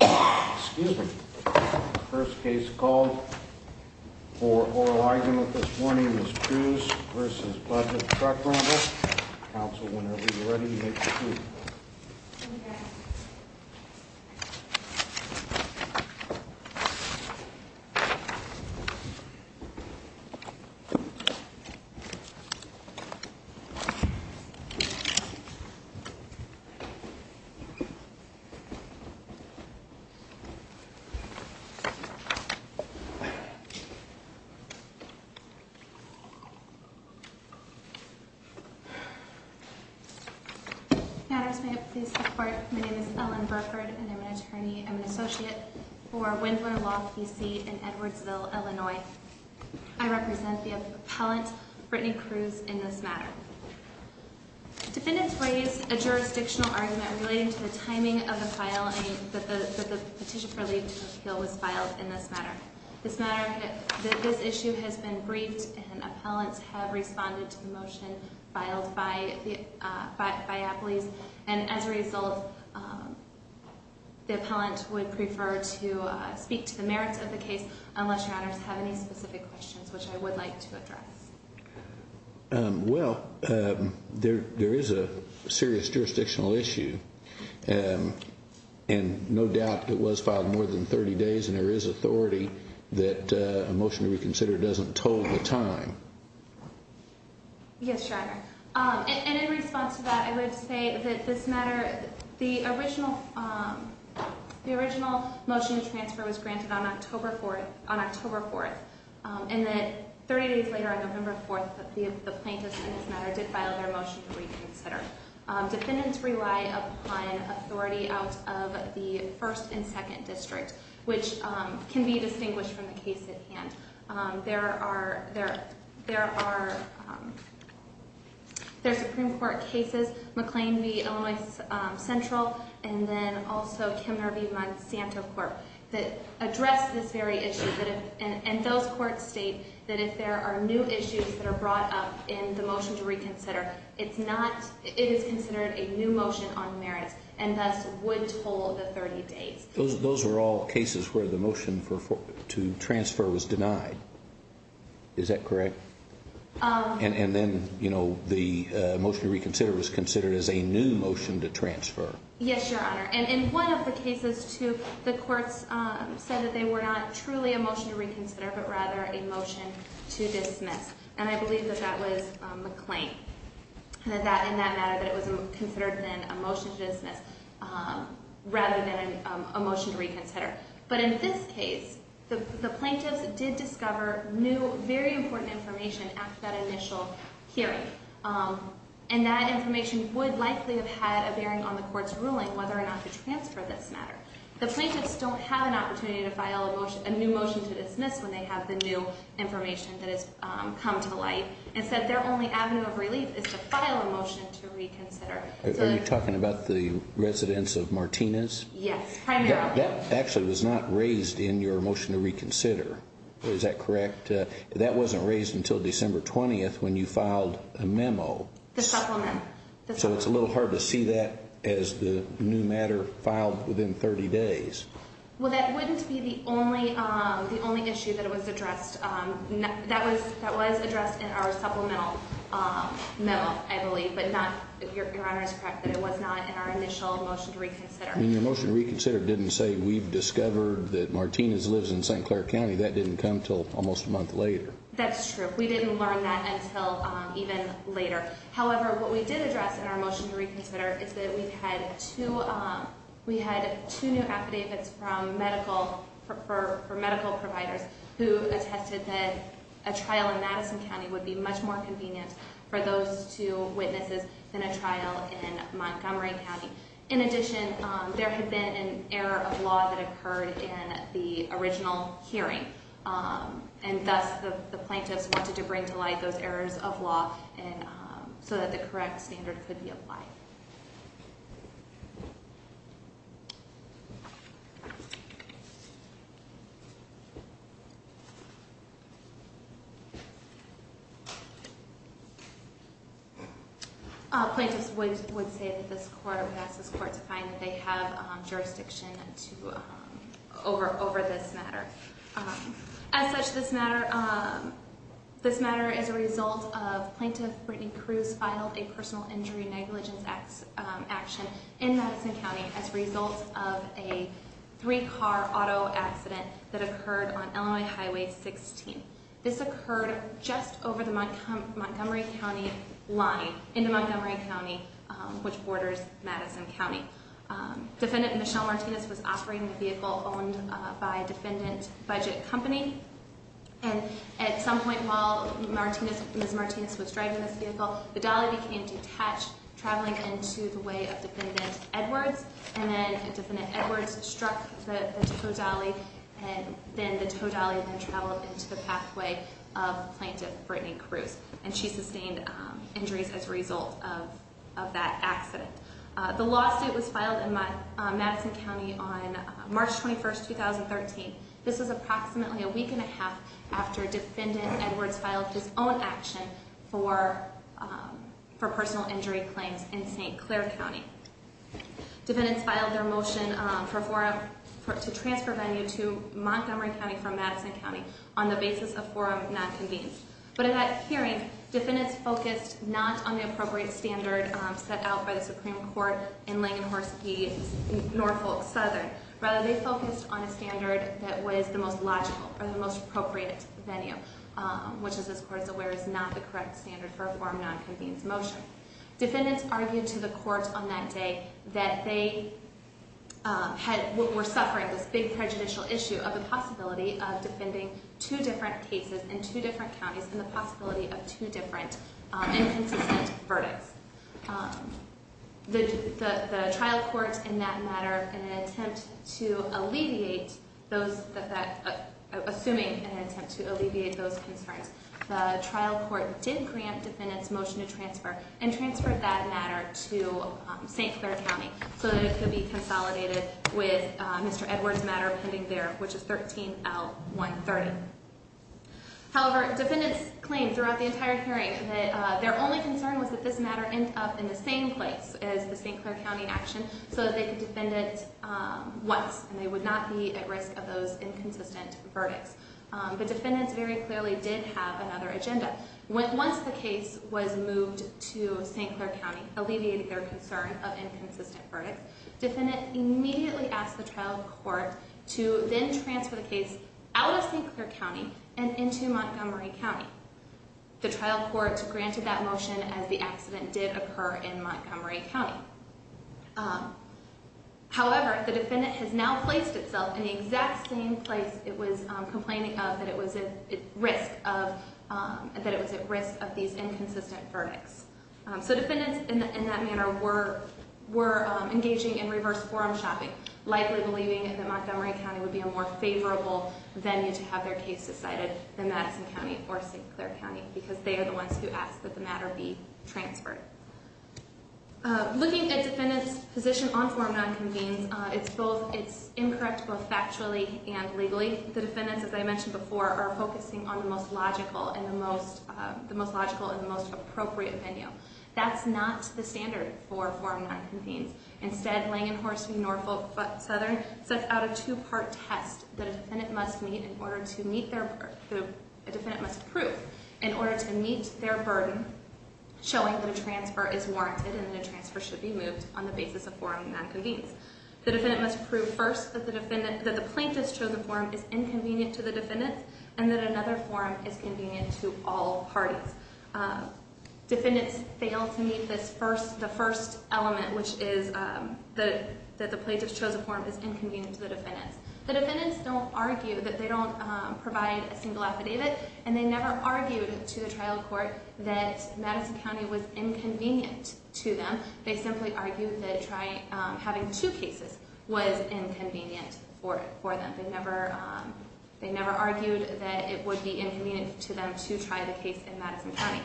Excuse me. First case called for oral argument this morning is Kruse v. Budget Truck Rental. Counsel, whenever you're ready, make your move. Matters may it please the court. My name is Ellen Burford and I'm an attorney. I'm an associate for Wendler Law, P.C. in Edwardsville, Illinois. I represent the appellant, Brittany Kruse, in this matter. Defendants raised a jurisdictional argument relating to the timing of the filing that the petition for leave to appeal was filed in this matter. This matter, this issue has been briefed and appellants have responded to the motion filed by Appley's. And as a result, the appellant would prefer to speak to the merits of the case unless your honors have any specific questions, which I would like to address. Well, there is a serious jurisdictional issue and no doubt it was filed more than 30 days and there is authority that a motion to reconsider doesn't toll the time. Yes, your honor. And in response to that, I would say that this matter, the original motion to transfer was granted on October 4th. And that 30 days later, on November 4th, the plaintiffs in this matter did file their motion to reconsider. Defendants rely upon authority out of the 1st and 2nd districts, which can be distinguished from the case at hand. There are Supreme Court cases, McLean v. Illinois Central, and then also Kemner v. Monsanto Court that address this very issue. And those courts state that if there are new issues that are brought up in the motion to reconsider, it is considered a new motion on merits and thus would toll the 30 days. Those are all cases where the motion to transfer was denied. Is that correct? And then, you know, the motion to reconsider was considered as a new motion to transfer. Yes, your honor. And in one of the cases, too, the courts said that they were not truly a motion to reconsider but rather a motion to dismiss. And I believe that that was McLean in that matter, that it was considered then a motion to dismiss rather than a motion to reconsider. But in this case, the plaintiffs did discover new, very important information after that initial hearing. And that information would likely have had a bearing on the court's ruling whether or not to transfer this matter. The plaintiffs don't have an opportunity to file a new motion to dismiss when they have the new information that has come to light. Instead, their only avenue of relief is to file a motion to reconsider. Are you talking about the residence of Martinez? Yes, primarily. That actually was not raised in your motion to reconsider. Is that correct? That wasn't raised until December 20th when you filed a memo. The supplement. So it's a little hard to see that as the new matter filed within 30 days. Well, that wouldn't be the only issue that was addressed. That was addressed in our supplemental memo, I believe. But your honor is correct that it was not in our initial motion to reconsider. And your motion to reconsider didn't say we've discovered that Martinez lives in St. Clair County. That didn't come until almost a month later. That's true. We didn't learn that until even later. However, what we did address in our motion to reconsider is that we had two new affidavits for medical providers who attested that a trial in Madison County would be much more convenient for those two witnesses than a trial in Montgomery County. In addition, there had been an error of law that occurred in the original hearing. And thus, the plaintiffs wanted to bring to light those errors of law so that the correct standard could be applied. Plaintiffs would say that this court would ask this court to find that they have jurisdiction over this matter. As such, this matter is a result of Plaintiff Brittany Cruz filed a personal injury negligence action in Madison County as a result of a three-car auto accident that occurred on Illinois Highway 16. This occurred just over the Montgomery County line, into Montgomery County, which borders Madison County. Defendant Michelle Martinez was offering a vehicle owned by a defendant budget company. And at some point while Ms. Martinez was driving this vehicle, the dolly became detached, traveling into the way of Defendant Edwards. And then Defendant Edwards struck the tow dolly, and then the tow dolly then traveled into the pathway of Plaintiff Brittany Cruz. And she sustained injuries as a result of that accident. The lawsuit was filed in Madison County on March 21, 2013. This was approximately a week and a half after Defendant Edwards filed his own action for personal injury claims in St. Clair County. Defendants filed their motion for a forum to transfer venue to Montgomery County from Madison County on the basis of forum not convened. But in that hearing, defendants focused not on the appropriate standard set out by the Supreme Court in Langenhorst v. Norfolk Southern. Rather, they focused on a standard that was the most logical or the most appropriate venue, which as this Court is aware is not the correct standard for a forum not convened motion. Defendants argued to the Court on that day that they were suffering this big prejudicial issue of the possibility of defending two different cases in two different counties and the possibility of two different inconsistent verdicts. The trial court in that matter, in an attempt to alleviate those, assuming an attempt to alleviate those concerns, the trial court did grant defendants motion to transfer and transferred that matter to St. Clair County so that it could be consolidated with Mr. Edwards' matter pending there, which is 13-L-130. However, defendants claimed throughout the entire hearing that their only concern was that this matter ended up in the same place as the St. Clair County action so that they could defend it once and they would not be at risk of those inconsistent verdicts. But defendants very clearly did have another agenda. Once the case was moved to St. Clair County, alleviating their concern of inconsistent verdicts, defendants immediately asked the trial court to then transfer the case out of St. Clair County and into Montgomery County. The trial court granted that motion as the accident did occur in Montgomery County. However, the defendant has now placed itself in the exact same place it was complaining of that it was at risk of these inconsistent verdicts. So defendants in that manner were engaging in reverse forum shopping, likely believing that Montgomery County would be a more favorable venue to have their case decided than Madison County or St. Clair County because they are the ones who asked that the matter be transferred. Looking at defendants' position on forum non-convenes, it's incorrect both factually and legally. The defendants, as I mentioned before, are focusing on the most logical and the most appropriate venue. That's not the standard for forum non-convenes. Instead, Langenhorst and Norfolk Southern set out a two-part test that a defendant must prove in order to meet their burden showing that a transfer is warranted and that a transfer should be moved on the basis of forum non-convenes. The defendant must prove first that the plaintiff's chosen forum is inconvenient to the defendants and that another forum is convenient to all parties. Defendants fail to meet the first element, which is that the plaintiff's chosen forum is inconvenient to the defendants. The defendants don't argue that they don't provide a single affidavit, and they never argued to the trial court that Madison County was inconvenient to them. They simply argued that having two cases was inconvenient for them. They never argued that it would be inconvenient to them to try the case in Madison County.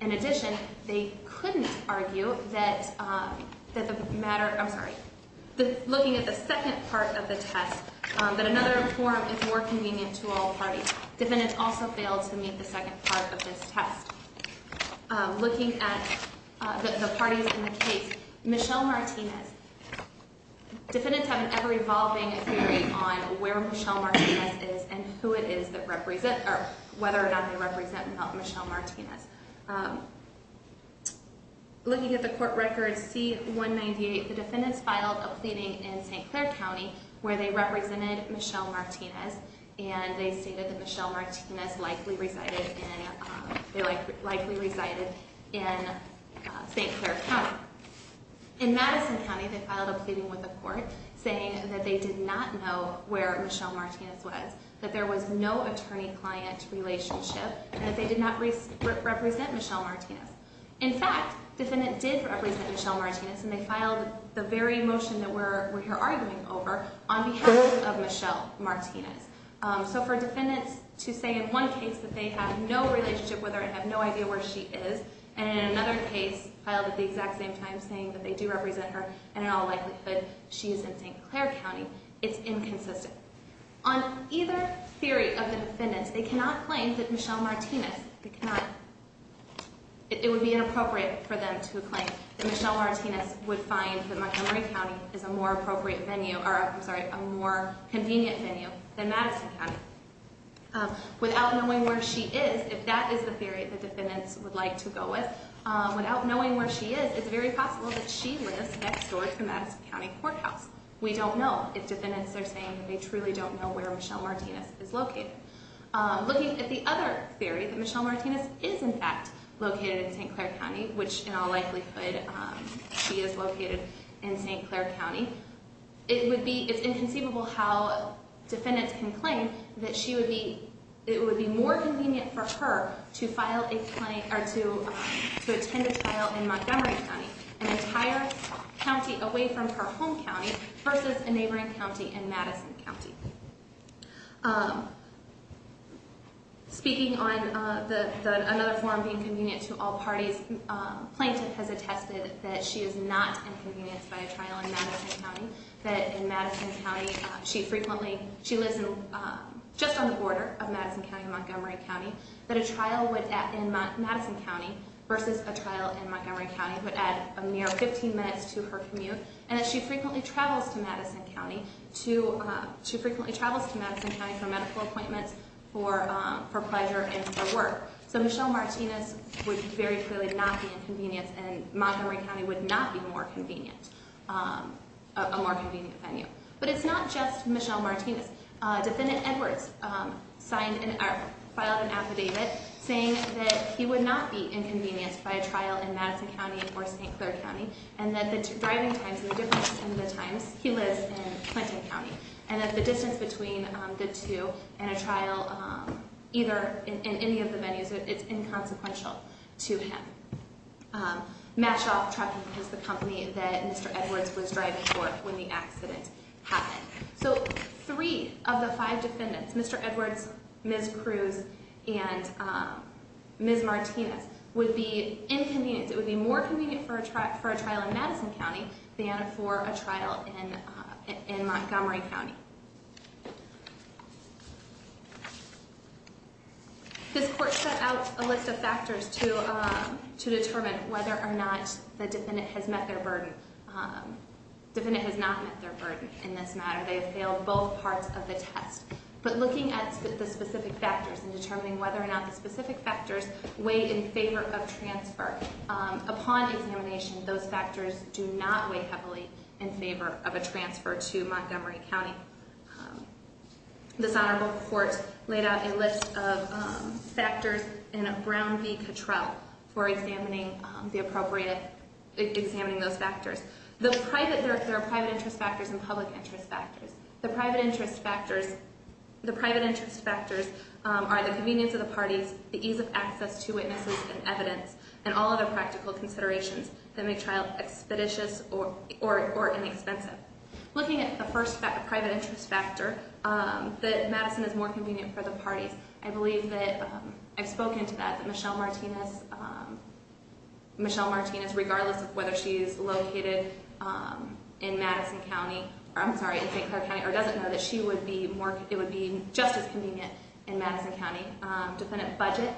In addition, they couldn't argue that looking at the second part of the test, that another forum is more convenient to all parties. Defendants also failed to meet the second part of this test. Looking at the parties in the case, Michelle Martinez. Defendants have an ever-evolving theory on where Michelle Martinez is and whether or not they represent Michelle Martinez. Looking at the court records C-198, the defendants filed a pleading in St. Clair County where they represented Michelle Martinez. They stated that Michelle Martinez likely resided in St. Clair County. In Madison County, they filed a pleading with the court saying that they did not know where Michelle Martinez was, that there was no attorney-client relationship, and that they did not represent Michelle Martinez. In fact, defendants did represent Michelle Martinez and they filed the very motion that we're here arguing over on behalf of Michelle Martinez. So for defendants to say in one case that they have no relationship with her and have no idea where she is, and in another case filed at the exact same time saying that they do represent her and in all likelihood she is in St. Clair County, it's inconsistent. On either theory of the defendants, they cannot claim that Michelle Martinez... It would be inappropriate for them to claim that Michelle Martinez would find that Montgomery County is a more appropriate venue, or I'm sorry, a more convenient venue than Madison County. Without knowing where she is, if that is the theory that defendants would like to go with, without knowing where she is, it's very possible that she lives next door to Madison County Courthouse. We don't know if defendants are saying that they truly don't know where Michelle Martinez is located. Looking at the other theory, that Michelle Martinez is in fact located in St. Clair County, which in all likelihood she is located in St. Clair County, it's inconceivable how defendants can claim that it would be more convenient for her to attend a trial in Montgomery County, an entire county away from her home county, versus a neighboring county in Madison County. Speaking on another form being convenient to all parties, plaintiff has attested that she is not inconvenienced by a trial in Madison County, that in Madison County she frequently... she lives just on the border of Madison County and Montgomery County, that a trial in Madison County versus a trial in Montgomery County would add a mere 15 minutes to her commute, and that she frequently travels to Madison County for medical appointments, for pleasure, and for work. So Michelle Martinez would very clearly not be inconvenienced, and Montgomery County would not be a more convenient venue. But it's not just Michelle Martinez. Defendant Edwards filed an affidavit saying that he would not be inconvenienced by a trial in Madison County or St. Clair County, and that the driving times and the difference in the times, he lives in Clinton County, and that the distance between the two and a trial either in any of the venues is inconsequential to him. Mashed off trucking is the company that Mr. Edwards was driving for when the accident happened. So three of the five defendants, Mr. Edwards, Ms. Cruz, and Ms. Martinez, would be inconvenienced. It would be more convenient for a trial in Madison County than for a trial in Montgomery County. This court set out a list of factors to determine whether or not the defendant has met their burden. The defendant has not met their burden in this matter. They have failed both parts of the test. But looking at the specific factors and determining whether or not the specific factors weigh in favor of transfer, upon examination, those factors do not weigh heavily in favor of a transfer to Montgomery County. This honorable court laid out a list of factors in a Brown v. Cottrell for examining those factors. There are private interest factors and public interest factors. The private interest factors are the convenience of the parties, the ease of access to witnesses and evidence, and all other practical considerations that make trial expeditious or inexpensive. Looking at the first private interest factor, that Madison is more convenient for the parties, I believe that I've spoken to that, that Michelle Martinez, regardless of whether she is located in Madison County, or I'm sorry, in St. Clair County, or doesn't know that she would be more, it would be just as convenient in Madison County. Defendant Budget,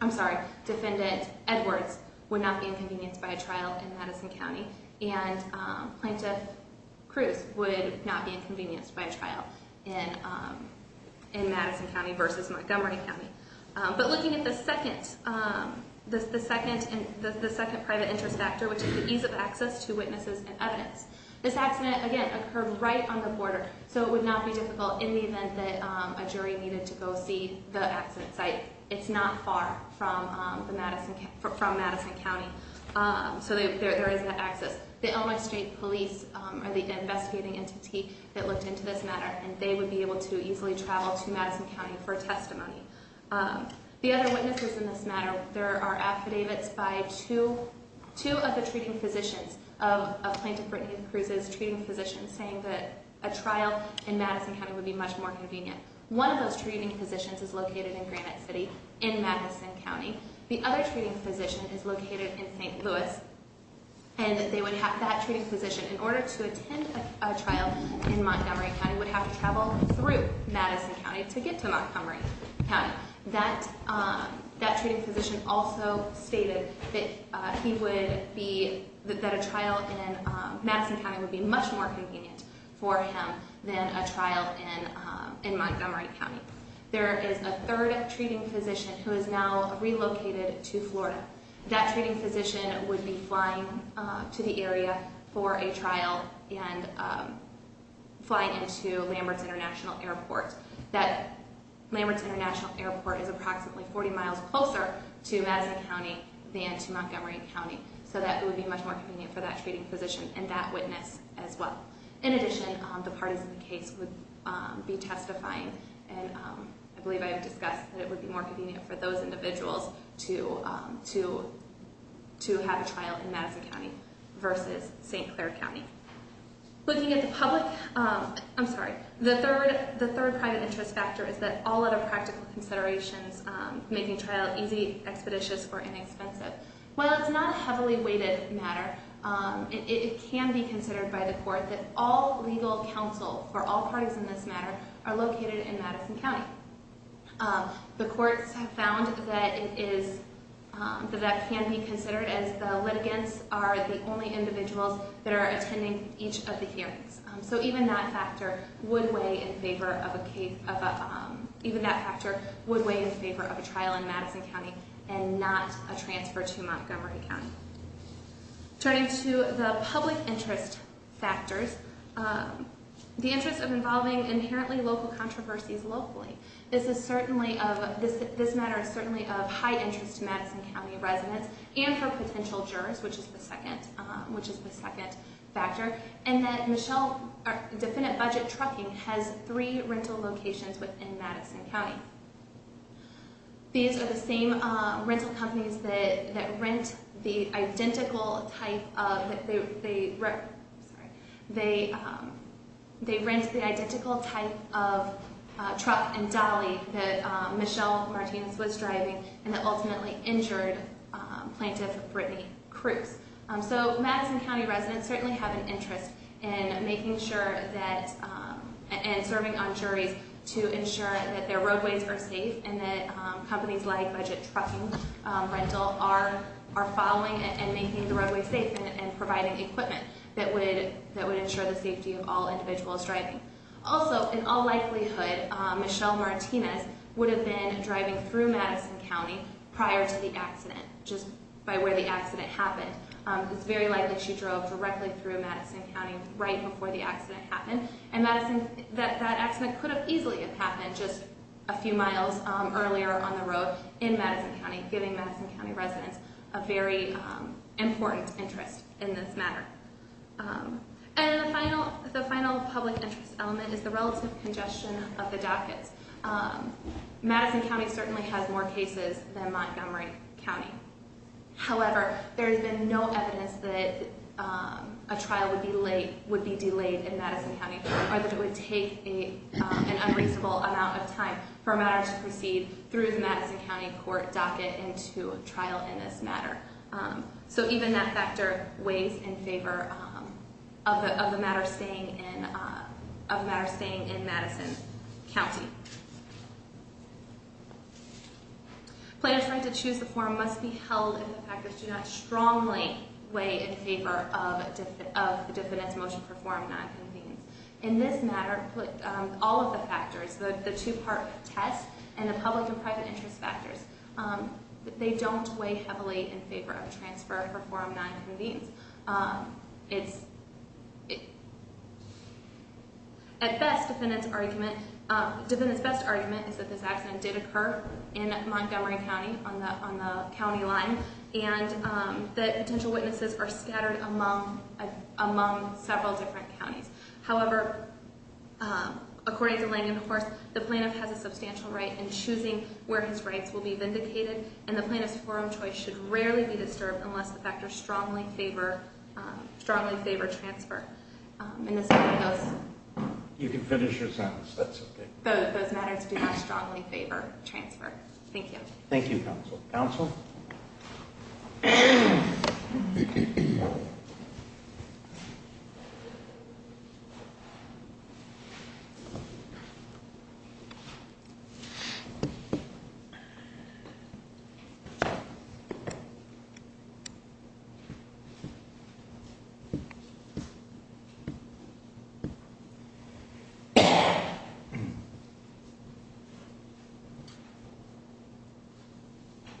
I'm sorry, Defendant Edwards would not be inconvenienced by a trial in Madison County. And Plaintiff Cruz would not be inconvenienced by a trial in Madison County versus Montgomery County. But looking at the second private interest factor, which is the ease of access to witnesses and evidence, this accident, again, occurred right on the border, so it would not be difficult in the event that a jury needed to go see the accident site. It's not far from Madison County, so there is that access. The Elmwood Street Police are the investigating entity that looked into this matter, and they would be able to easily travel to Madison County for testimony. The other witnesses in this matter, there are affidavits by two of the treating physicians, affidavits of Plaintiff Brittany and Cruz's treating physicians saying that a trial in Madison County would be much more convenient. One of those treating physicians is located in Granite City in Madison County. The other treating physician is located in St. Louis, and that treating physician, in order to attend a trial in Montgomery County, would have to travel through Madison County to get to Montgomery County. Now, that treating physician also stated that a trial in Madison County would be much more convenient for him than a trial in Montgomery County. There is a third treating physician who is now relocated to Florida. That treating physician would be flying to the area for a trial and flying into Lamberts International Airport. That Lamberts International Airport is approximately 40 miles closer to Madison County than to Montgomery County, so that it would be much more convenient for that treating physician and that witness as well. In addition, the partisan case would be testifying, and I believe I have discussed that it would be more convenient for those individuals to have a trial in Madison County versus St. Clair County. Looking at the public, I'm sorry, the third private interest factor is that all other practical considerations making trial easy, expeditious, or inexpensive. While it's not a heavily weighted matter, it can be considered by the court that all legal counsel for all parties in this matter are located in Madison County. The courts have found that that can be considered as the litigants are the only individuals that are attending each of the hearings. So even that factor would weigh in favor of a trial in Madison County and not a transfer to Montgomery County. Turning to the public interest factors, the interest of involving inherently local controversies locally. This matter is certainly of high interest to Madison County residents and for potential jurors, which is the second factor, and that Michelle, Definite Budget Trucking has three rental locations within Madison County. These are the same rental companies that rent the identical type of truck and dolly that Michelle Martinez was driving and that ultimately injured Plaintiff Brittany Cruz. So Madison County residents certainly have an interest in making sure that and serving on juries to ensure that their roadways are safe and that companies like Budget Trucking Rental are following and making the roadways safe and providing equipment that would ensure the safety of all individuals driving. Also, in all likelihood, Michelle Martinez would have been driving through Madison County prior to the accident just by where the accident happened. It's very likely that she drove directly through Madison County right before the accident happened and that accident could have easily have happened just a few miles earlier on the road in Madison County, giving Madison County residents a very important interest in this matter. And the final public interest element is the relative congestion of the dockets. Madison County certainly has more cases than Montgomery County. However, there has been no evidence that a trial would be delayed in Madison County or that it would take an unreasonable amount of time for a matter to proceed through the Madison County court docket into a trial in this matter. So even that factor weighs in favor of the matter staying in Madison County. Plaintiffs' right to choose the form must be held if the factors do not strongly weigh in favor of the defendant's motion to perform non-convenience. In this matter, all of the factors, the two-part test and the public and private interest factors, they don't weigh heavily in favor of transfer or form non-convenience. At best, defendant's best argument is that this accident did occur in Montgomery County on the county line and that potential witnesses are scattered among several different counties. However, according to Langenhorst, the plaintiff has a substantial right in choosing where his rights will be vindicated and the plaintiff's forum choice should rarely be disturbed unless the factors strongly favor transfer. You can finish your sentence. That's okay. Those matters do not strongly favor transfer. Thank you. Thank you, counsel. Counsel? Thank you.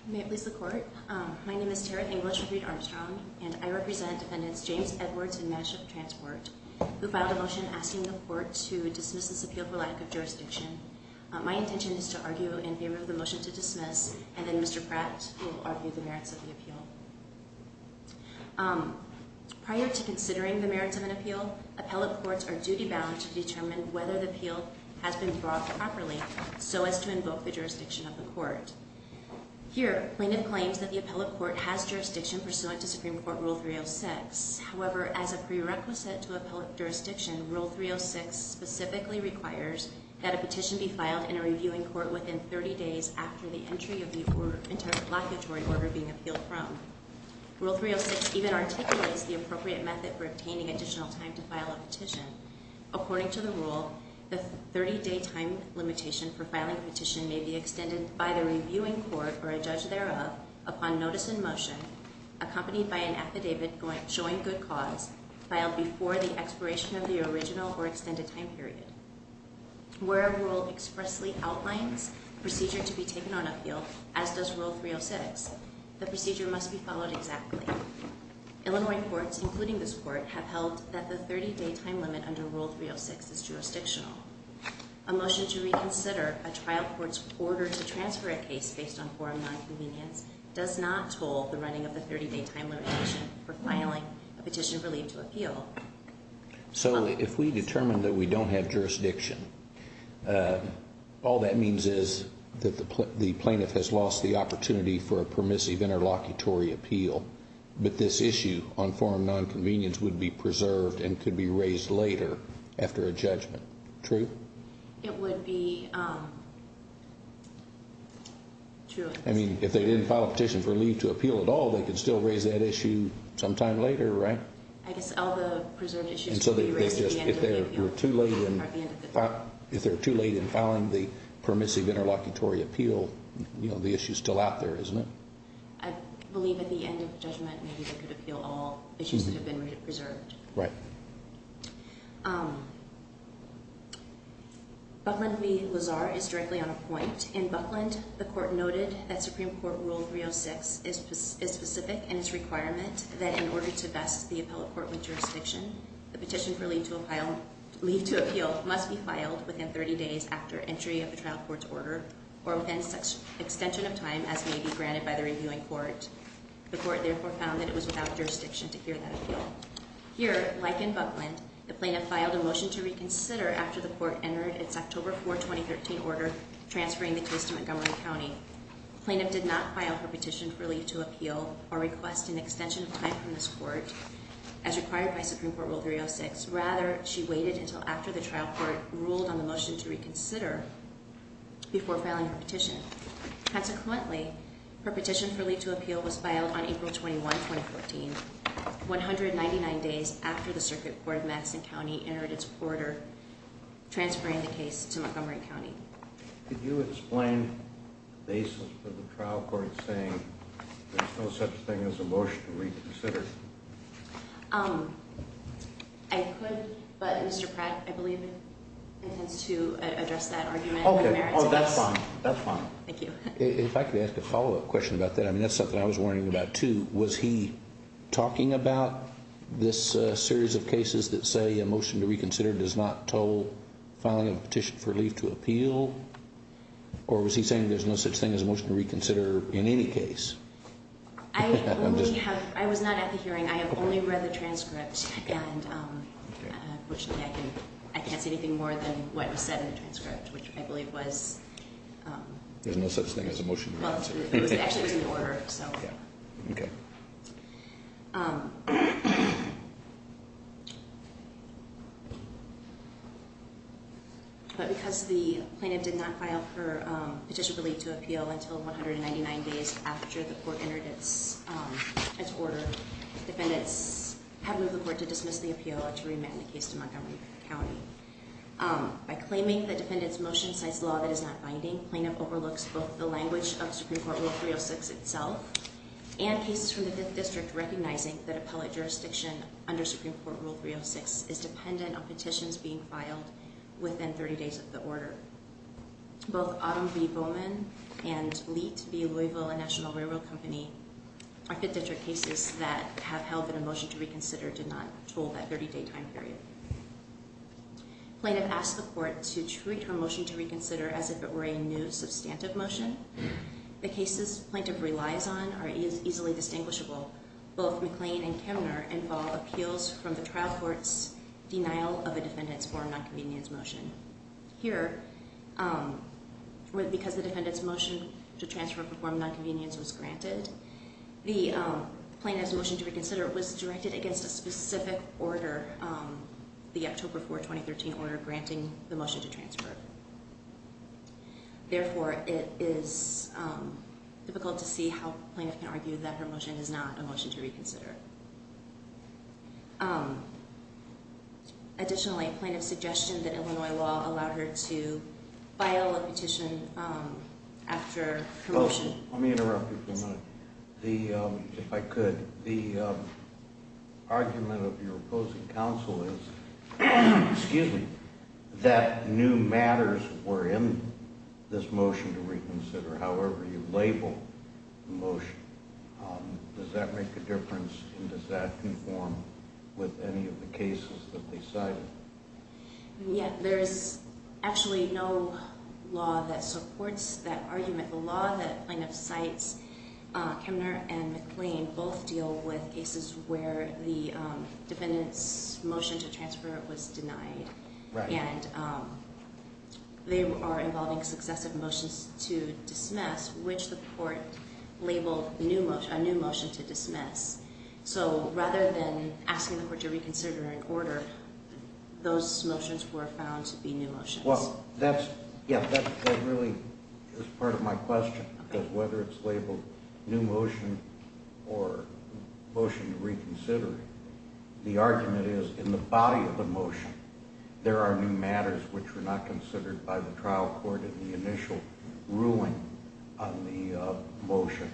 May it please the court. My name is Tara English with Reed Armstrong, and I represent defendants James Edwards and Mashup Transport, who filed a motion asking the court to dismiss this appeal for lack of jurisdiction. My intention is to argue in favor of the motion to dismiss, and then Mr. Pratt will argue the merits of the appeal. Prior to considering the merits of an appeal, appellate courts are duty-bound to determine whether the appeal has been brought properly Here, plaintiff claims that the appellate court has jurisdiction pursuant to Supreme Court Rule 306. However, as a prerequisite to appellate jurisdiction, Rule 306 specifically requires that a petition be filed in a reviewing court within 30 days after the entry of the interlocutory order being appealed from. Rule 306 even articulates the appropriate method for obtaining additional time to file a petition. According to the rule, the 30-day time limitation for filing a petition may be extended by the reviewing court or a judge thereof upon notice in motion, accompanied by an affidavit showing good cause, filed before the expiration of the original or extended time period. Where a rule expressly outlines procedure to be taken on appeal, as does Rule 306, the procedure must be followed exactly. Illinois courts, including this court, have held that the 30-day time limit under Rule 306 is jurisdictional. A motion to reconsider a trial court's order to transfer a case based on forum nonconvenience does not toll the running of the 30-day time limitation for filing a petition relieved to appeal. So if we determine that we don't have jurisdiction, all that means is that the plaintiff has lost the opportunity for a permissive interlocutory appeal. But this issue on forum nonconvenience would be preserved and could be raised later after a judgment. True? It would be true. I mean, if they didn't file a petition for leave to appeal at all, they could still raise that issue sometime later, right? I guess all the preserved issues could be raised at the end of the appeal. If they're too late in filing the permissive interlocutory appeal, the issue is still out there, isn't it? I believe at the end of the judgment, maybe they could appeal all issues that have been preserved. Right. Buckland v. Lazar is directly on a point. In Buckland, the court noted that Supreme Court Rule 306 is specific in its requirement that in order to vest the appellate court with jurisdiction, the petition for leave to appeal must be filed within 30 days after entry of the trial court's order or within extension of time as may be granted by the reviewing court. The court therefore found that it was without jurisdiction to hear that appeal. Here, like in Buckland, the plaintiff filed a motion to reconsider after the court entered its October 4, 2013 order transferring the case to Montgomery County. The plaintiff did not file her petition for leave to appeal or request an extension of time from this court as required by Supreme Court Rule 306. Rather, she waited until after the trial court ruled on the motion to reconsider before filing her petition. Consequently, her petition for leave to appeal was filed on April 21, 2014, 199 days after the Circuit Court of Madison County entered its order transferring the case to Montgomery County. Could you explain the basis of the trial court saying there's no such thing as a motion to reconsider? I could, but Mr. Pratt, I believe, intends to address that argument. Okay. Oh, that's fine. That's fine. Thank you. If I could ask a follow-up question about that. I mean, that's something I was wondering about, too. Was he talking about this series of cases that say a motion to reconsider does not toll filing a petition for leave to appeal? Or was he saying there's no such thing as a motion to reconsider in any case? I was not at the hearing. I have only read the transcript, and I can't say anything more than what was said in the transcript, which I believe was- There's no such thing as a motion to reconsider. Actually, it was in the order, so. Okay. But because the plaintiff did not file for petition for leave to appeal until 199 days after the court entered its order, defendants have moved the court to dismiss the appeal and to remand the case to Montgomery County. By claiming that defendants' motion cites law that is not binding, plaintiff overlooks both the language of Supreme Court Rule 306 itself and cases from the Fifth District recognizing that appellate jurisdiction under Supreme Court Rule 306 is dependent on petitions being filed within 30 days of the order. Both Autumn B. Bowman and Leet B. Louisville and National Railroad Company are Fifth District cases that have held that a motion to reconsider did not toll that 30-day time period. Plaintiff asks the court to treat her motion to reconsider as if it were a new substantive motion. The cases plaintiff relies on are easily distinguishable. Both McLean and Kemner involve appeals from the trial court's denial of a defendant's form of nonconvenience motion. Here, because the defendant's motion to transfer from form of nonconvenience was granted, the plaintiff's motion to reconsider was directed against a specific order, the October 4, 2013 order granting the motion to transfer. Therefore, it is difficult to see how plaintiff can argue that her motion is not a motion to reconsider. Additionally, plaintiff's suggestion that Illinois law allow her to file a petition after her motion. Let me interrupt you for a minute, if I could. The argument of your opposing counsel is that new matters were in this motion to reconsider, however you label the motion. Does that make a difference and does that conform with any of the cases that they cited? Yeah, there's actually no law that supports that argument. The law that plaintiff cites, Kemner and McLean, both deal with cases where the defendant's motion to transfer was denied. And they are involving successive motions to dismiss, which the court labeled a new motion to dismiss. So rather than asking the court to reconsider an order, those motions were found to be new motions. Well, that's, yeah, that really is part of my question. Because whether it's labeled new motion or motion to reconsider, the argument is in the body of the motion, there are new matters which were not considered by the trial court in the initial ruling on the motion.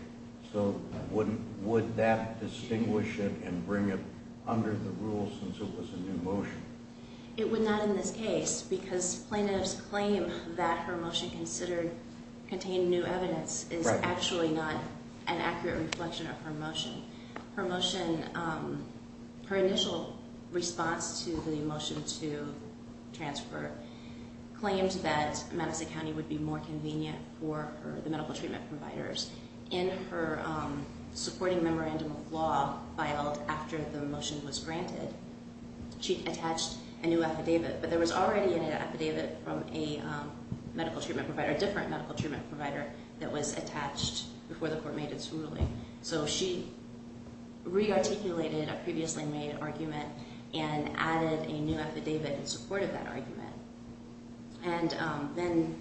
So would that distinguish it and bring it under the rule since it was a new motion? It would not in this case because plaintiff's claim that her motion contained new evidence is actually not an accurate reflection of her motion. Her motion, her initial response to the motion to transfer, claims that Madison County would be more convenient for the medical treatment providers. In her supporting memorandum of law filed after the motion was granted, she attached a new affidavit. But there was already an affidavit from a medical treatment provider, a different medical treatment provider, that was attached before the court made its ruling. So she re-articulated a previously made argument and added a new affidavit in support of that argument. And then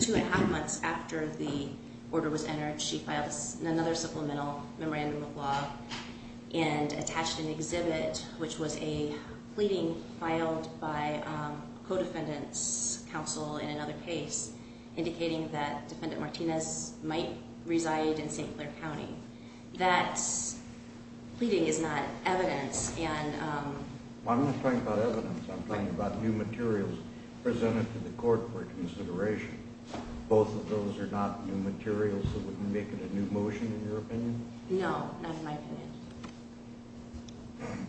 two and a half months after the order was entered, she filed another supplemental memorandum of law and attached an exhibit which was a pleading filed by co-defendants' counsel in another case, indicating that Defendant Martinez might reside in St. Clair County. That pleading is not evidence and... I'm not talking about evidence. I'm talking about new materials presented to the court for consideration. Both of those are not new materials that would make it a new motion in your opinion? No, not in my opinion.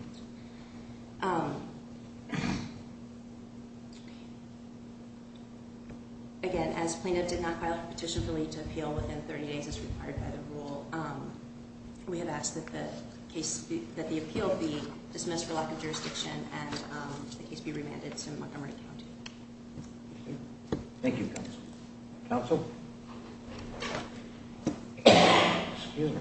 Again, as plaintiff did not file a petition for leave to appeal within 30 days as required by the rule, we have asked that the appeal be dismissed for lack of jurisdiction and the case be remanded to Montgomery County. Thank you, counsel. Counsel? Excuse me.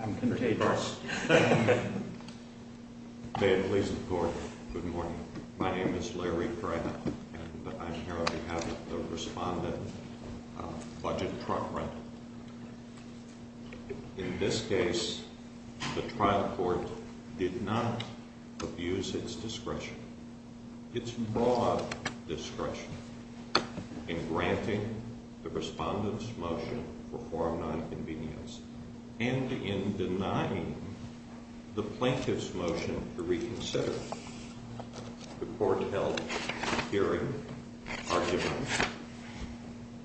I'm contagious. May it please the court, good morning. My name is Larry Pratt and I'm here on behalf of the respondent of Budget Trump Rental. In this case, the trial court did not abuse its discretion, its broad discretion in granting the respondent's motion for form 9 convenience and in denying the plaintiff's motion to reconsider. The court held a hearing, argued on it.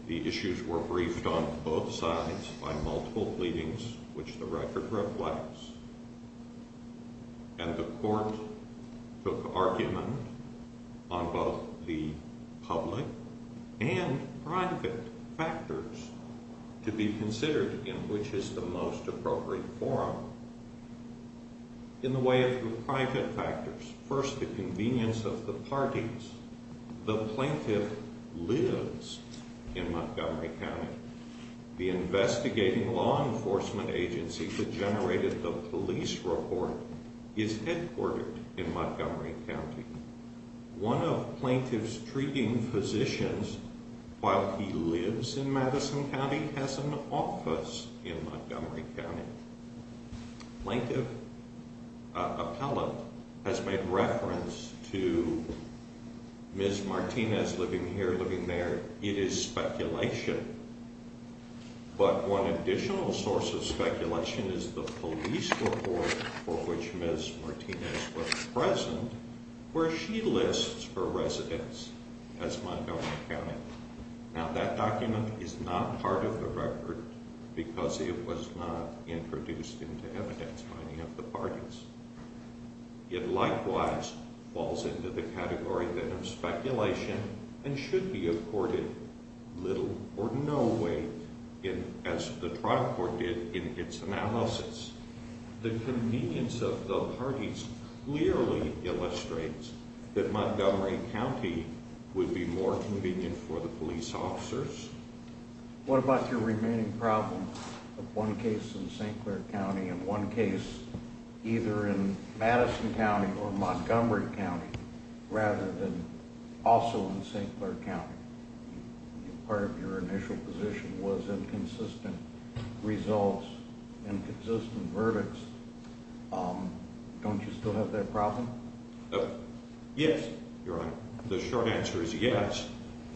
The issues were briefed on both sides by multiple pleadings, which the record reflects. And the court took argument on both the public and private factors to be considered in which is the most appropriate forum. In the way of the private factors, first the convenience of the parties. The plaintiff lives in Montgomery County. The investigating law enforcement agency that generated the police report is headquartered in Montgomery County. One of plaintiff's treating physicians, while he lives in Madison County, has an office in Montgomery County. Plaintiff appellate has made reference to Ms. Martinez living here, living there. It is speculation. But one additional source of speculation is the police report for which Ms. Martinez was present, where she lists her residence as Montgomery County. Now that document is not part of the record because it was not introduced into evidence by any of the parties. It likewise falls into the category then of speculation and should be accorded little or no weight, as the trial court did in its analysis. The convenience of the parties clearly illustrates that Montgomery County would be more convenient for the police officers. What about your remaining problem of one case in St. Clair County and one case either in Madison County or Montgomery County, rather than also in St. Clair County? Part of your initial position was inconsistent results, inconsistent verdicts. Don't you still have that problem? Yes, Your Honor. The short answer is yes,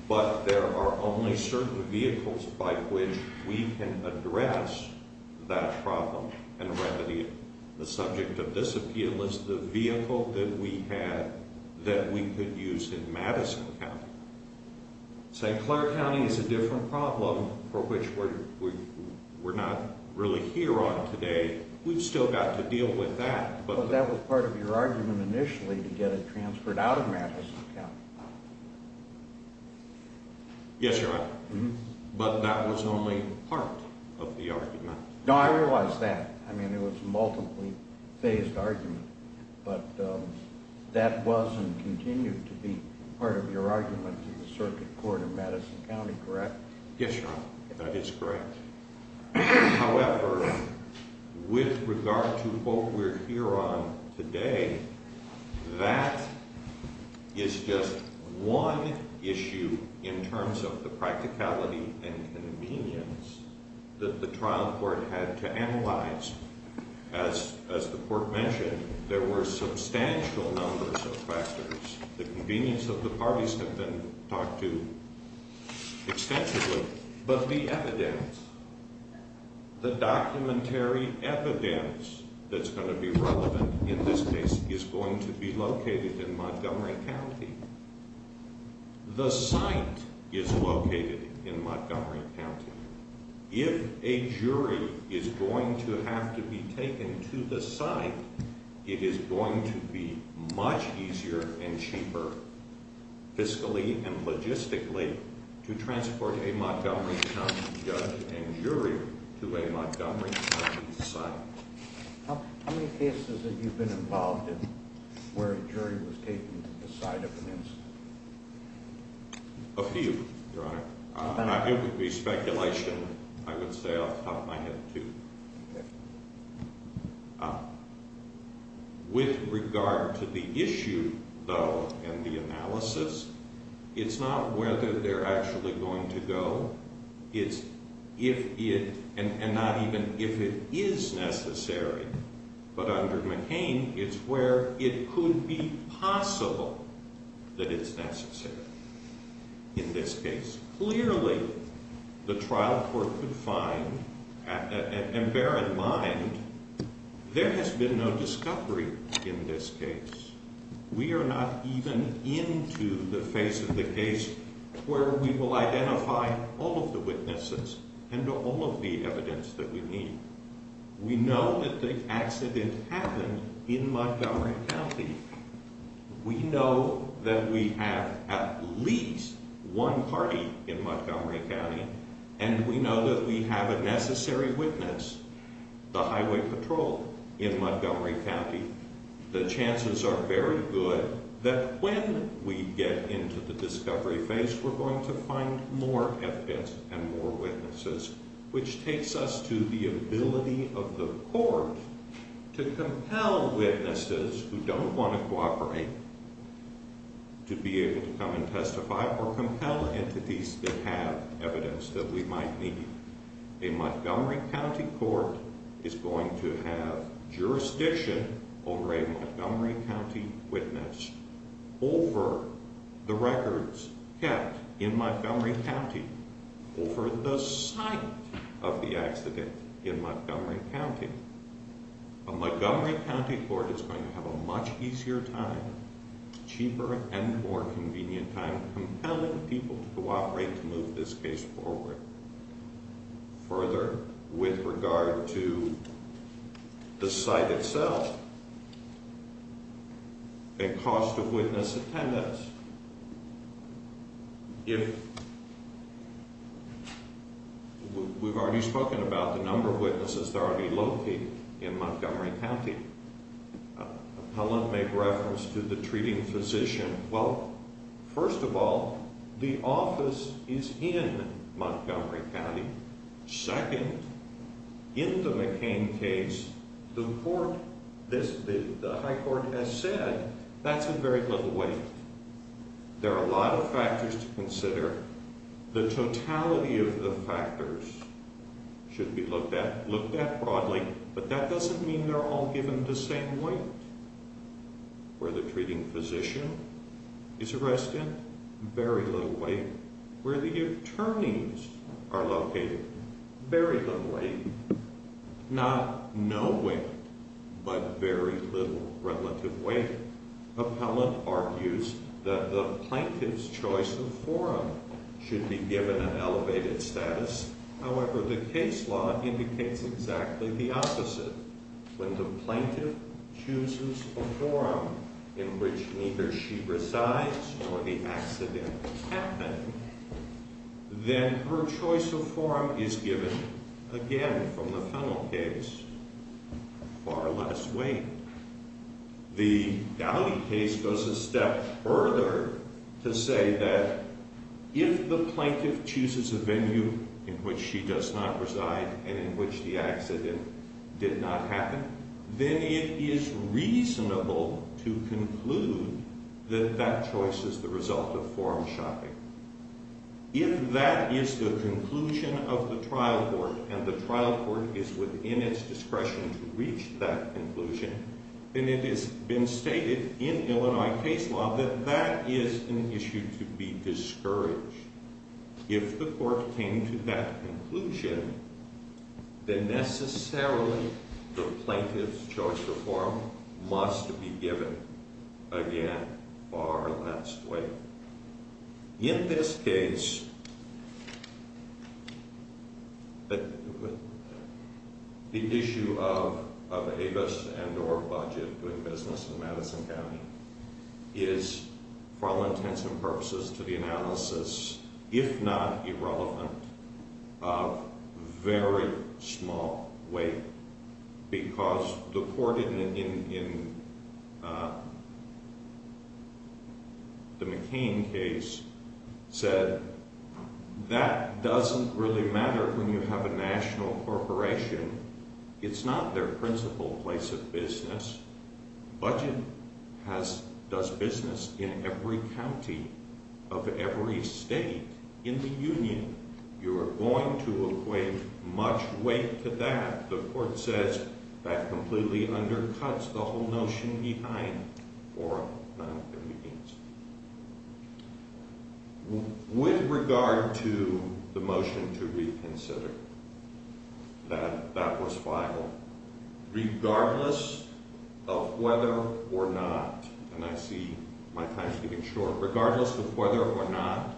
but there are only certain vehicles by which we can address that problem and remedy it. The subject of this appeal is the vehicle that we had that we could use in Madison County. St. Clair County is a different problem for which we're not really here on today. We've still got to deal with that. But that was part of your argument initially to get it transferred out of Madison County. Yes, Your Honor. But that was only part of the argument. No, I realize that. I mean, it was a multiply phased argument. But that was and continues to be part of your argument to the circuit court in Madison County, correct? Yes, Your Honor. That is correct. However, with regard to what we're here on today, that is just one issue in terms of the practicality and convenience that the trial court had to analyze. As the court mentioned, there were substantial numbers of factors. The convenience of the parties have been talked to extensively. But the evidence, the documentary evidence that's going to be relevant in this case is going to be located in Montgomery County. The site is located in Montgomery County. If a jury is going to have to be taken to the site, it is going to be much easier and cheaper, fiscally and logistically, to transport a Montgomery County judge and jury to a Montgomery County site. How many cases have you been involved in where a jury was taken to the site of an incident? A few, Your Honor. It would be speculation. I would say off the top of my head, two. With regard to the issue, though, and the analysis, it's not whether they're actually going to go. It's if it, and not even if it is necessary. But under McCain, it's where it could be possible that it's necessary in this case. Clearly, the trial court could find, and bear in mind, there has been no discovery in this case. We are not even into the face of the case where we will identify all of the witnesses and all of the evidence that we need. We know that the accident happened in Montgomery County. We know that we have at least one party in Montgomery County, and we know that we have a necessary witness, the highway patrol in Montgomery County. The chances are very good that when we get into the discovery phase, we're going to find more evidence and more witnesses, which takes us to the ability of the court to compel witnesses who don't want to cooperate to be able to come and testify or compel entities that have evidence that we might need. A Montgomery County court is going to have jurisdiction over a Montgomery County witness over the records kept in Montgomery County, over the site of the accident in Montgomery County. A Montgomery County court is going to have a much easier time, cheaper and more convenient time, compelling people to cooperate to move this case forward. Further, with regard to the site itself, the cost of witness attendance, if we've already spoken about the number of witnesses that are already located in Montgomery County. Appellant made reference to the treating physician. Well, first of all, the office is in Montgomery County. Second, in the McCain case, the High Court has said that's a very little weight. There are a lot of factors to consider. The totality of the factors should be looked at broadly, but that doesn't mean they're all given the same weight. Where the treating physician is arrested, very little weight. Where the attorneys are located, very little weight. Not no weight, but very little relative weight. Appellant argues that the plaintiff's choice of forum should be given an elevated status. However, the case law indicates exactly the opposite. When the plaintiff chooses a forum in which neither she resides nor the accident happened, then her choice of forum is given, again, from the final case, far less weight. The Dowdy case goes a step further to say that if the plaintiff chooses a venue in which she does not reside and in which the accident did not happen, then it is reasonable to conclude that that choice is the result of forum shopping. If that is the conclusion of the trial court and the trial court is within its discretion to reach that conclusion, then it has been stated in Illinois case law that that is an issue to be discouraged. If the court came to that conclusion, then necessarily the plaintiff's choice of forum must be given, again, far less weight. In this case, the issue of Avis and or Budget doing business in Madison County is, for all intents and purposes, to the analysis, if not irrelevant, of very small weight because the court in the McCain case said that doesn't really matter when you have a national corporation. It's not their principal place of business. Budget does business in every county of every state in the Union. You are going to equate much weight to that. The court says that completely undercuts the whole notion behind forum meetings. With regard to the motion to reconsider, that was filed regardless of whether or not, and I see my time is getting short, regardless of whether or not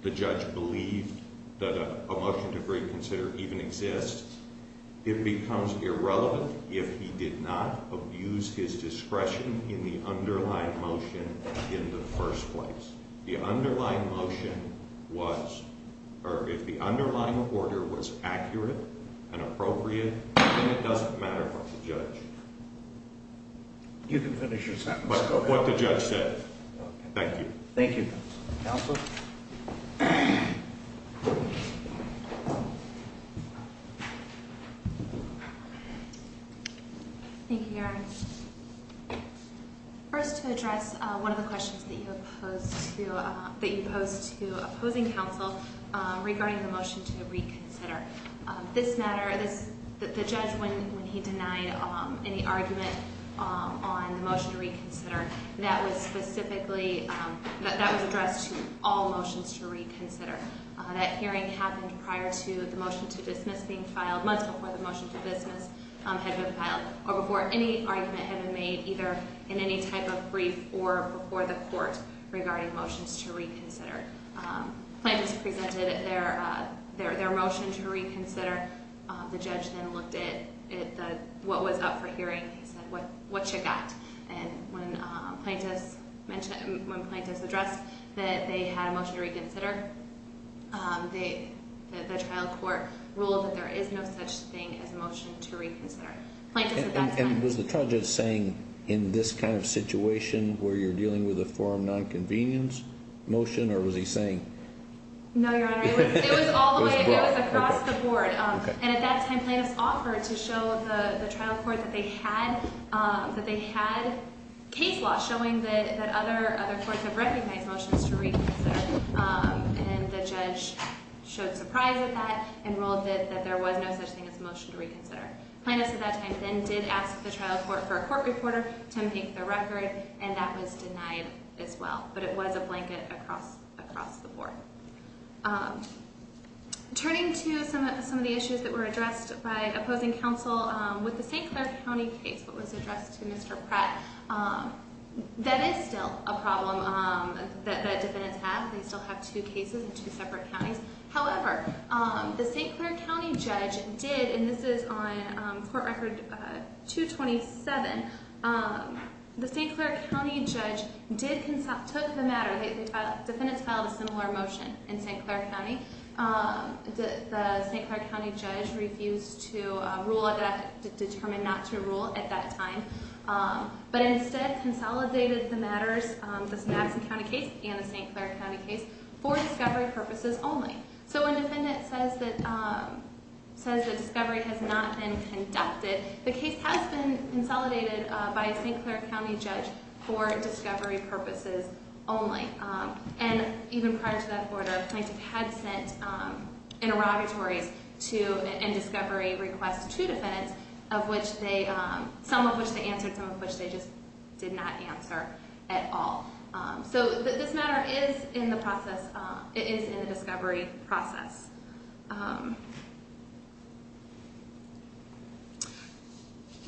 the judge believed that a motion to reconsider even exists, it becomes irrelevant if he did not abuse his discretion in the underlying motion in the first place. The underlying motion was, or if the underlying order was accurate and appropriate, then it doesn't matter for the judge. You can finish your sentence. But what the judge said. Thank you. Thank you. Counsel? Thank you, Your Honor. First to address one of the questions that you posed to opposing counsel regarding the motion to reconsider. This matter, the judge, when he denied any argument on the motion to reconsider, that was addressed to all motions to reconsider. That hearing happened prior to the motion to dismiss being filed. Months before the motion to dismiss had been filed or before any argument had been made, either in any type of brief or before the court regarding motions to reconsider. Plaintiffs presented their motion to reconsider. The judge then looked at what was up for hearing. He said, what you got? And when plaintiffs addressed that they had a motion to reconsider, the trial court ruled that there is no such thing as motion to reconsider. Plaintiffs at that time. And was the judge saying, in this kind of situation, where you're dealing with a forum nonconvenience motion, or was he saying? No, Your Honor. It was all the way. It was across the board. And at that time, plaintiffs offered to show the trial court that they had case law showing that other courts have recognized motions to reconsider. And the judge showed surprise at that and ruled that there was no such thing as motion to reconsider. Plaintiffs at that time then did ask the trial court for a court reporter to make the record, and that was denied as well. But it was a blanket across the board. Turning to some of the issues that were addressed by opposing counsel with the St. Clair County case that was addressed to Mr. Pratt, that is still a problem that defendants have. They still have two cases in two separate counties. However, the St. Clair County judge did, and this is on court record 227, the St. Clair County judge took the matter. Defendants filed a similar motion in St. Clair County. The St. Clair County judge refused to rule at that, determined not to rule at that time, but instead consolidated the matters, this Madison County case and the St. Clair County case, for discovery purposes only. So when a defendant says that discovery has not been conducted, the case has been consolidated by a St. Clair County judge for discovery purposes only. And even prior to that order, plaintiffs had sent interrogatories and discovery requests to defendants, some of which they answered, some of which they just did not answer at all. So this matter is in the discovery process.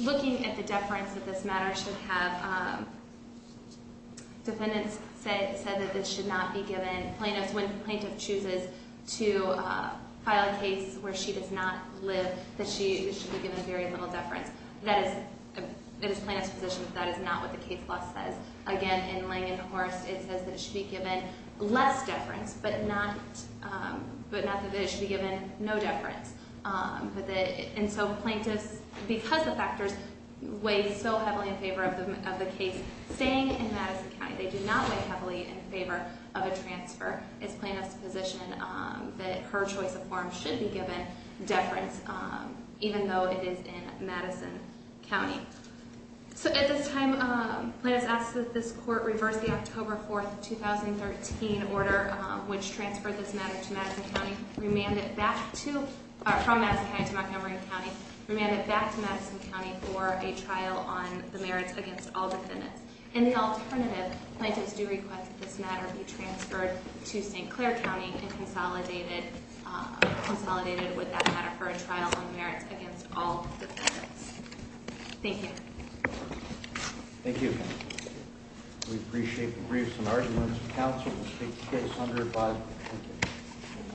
Looking at the deference that this matter should have, defendants said that this should not be given. When a plaintiff chooses to file a case where she does not live, that she should be given very little deference. It is plaintiff's position that that is not what the case law says. Again, in Lange and Horst, it says that it should be given less deference, but not that it should be given no deference. And so plaintiffs, because the factors weighed so heavily in favor of the case, staying in Madison County, they did not weigh heavily in favor of a transfer. It's plaintiff's position that her choice of form should be given deference even though it is in Madison County. So at this time, plaintiffs asked that this court reverse the October 4, 2013 order, which transferred this matter to Madison County, remanded it back to – from Madison County to Montgomery County, remanded it back to Madison County for a trial on the merits against all defendants. In the alternative, plaintiffs do request that this matter be transferred to St. Clair County and consolidated with that matter for a trial on merits against all defendants. Thank you. Thank you. We appreciate the briefs and arguments. The counsel will take the case under 5 minutes.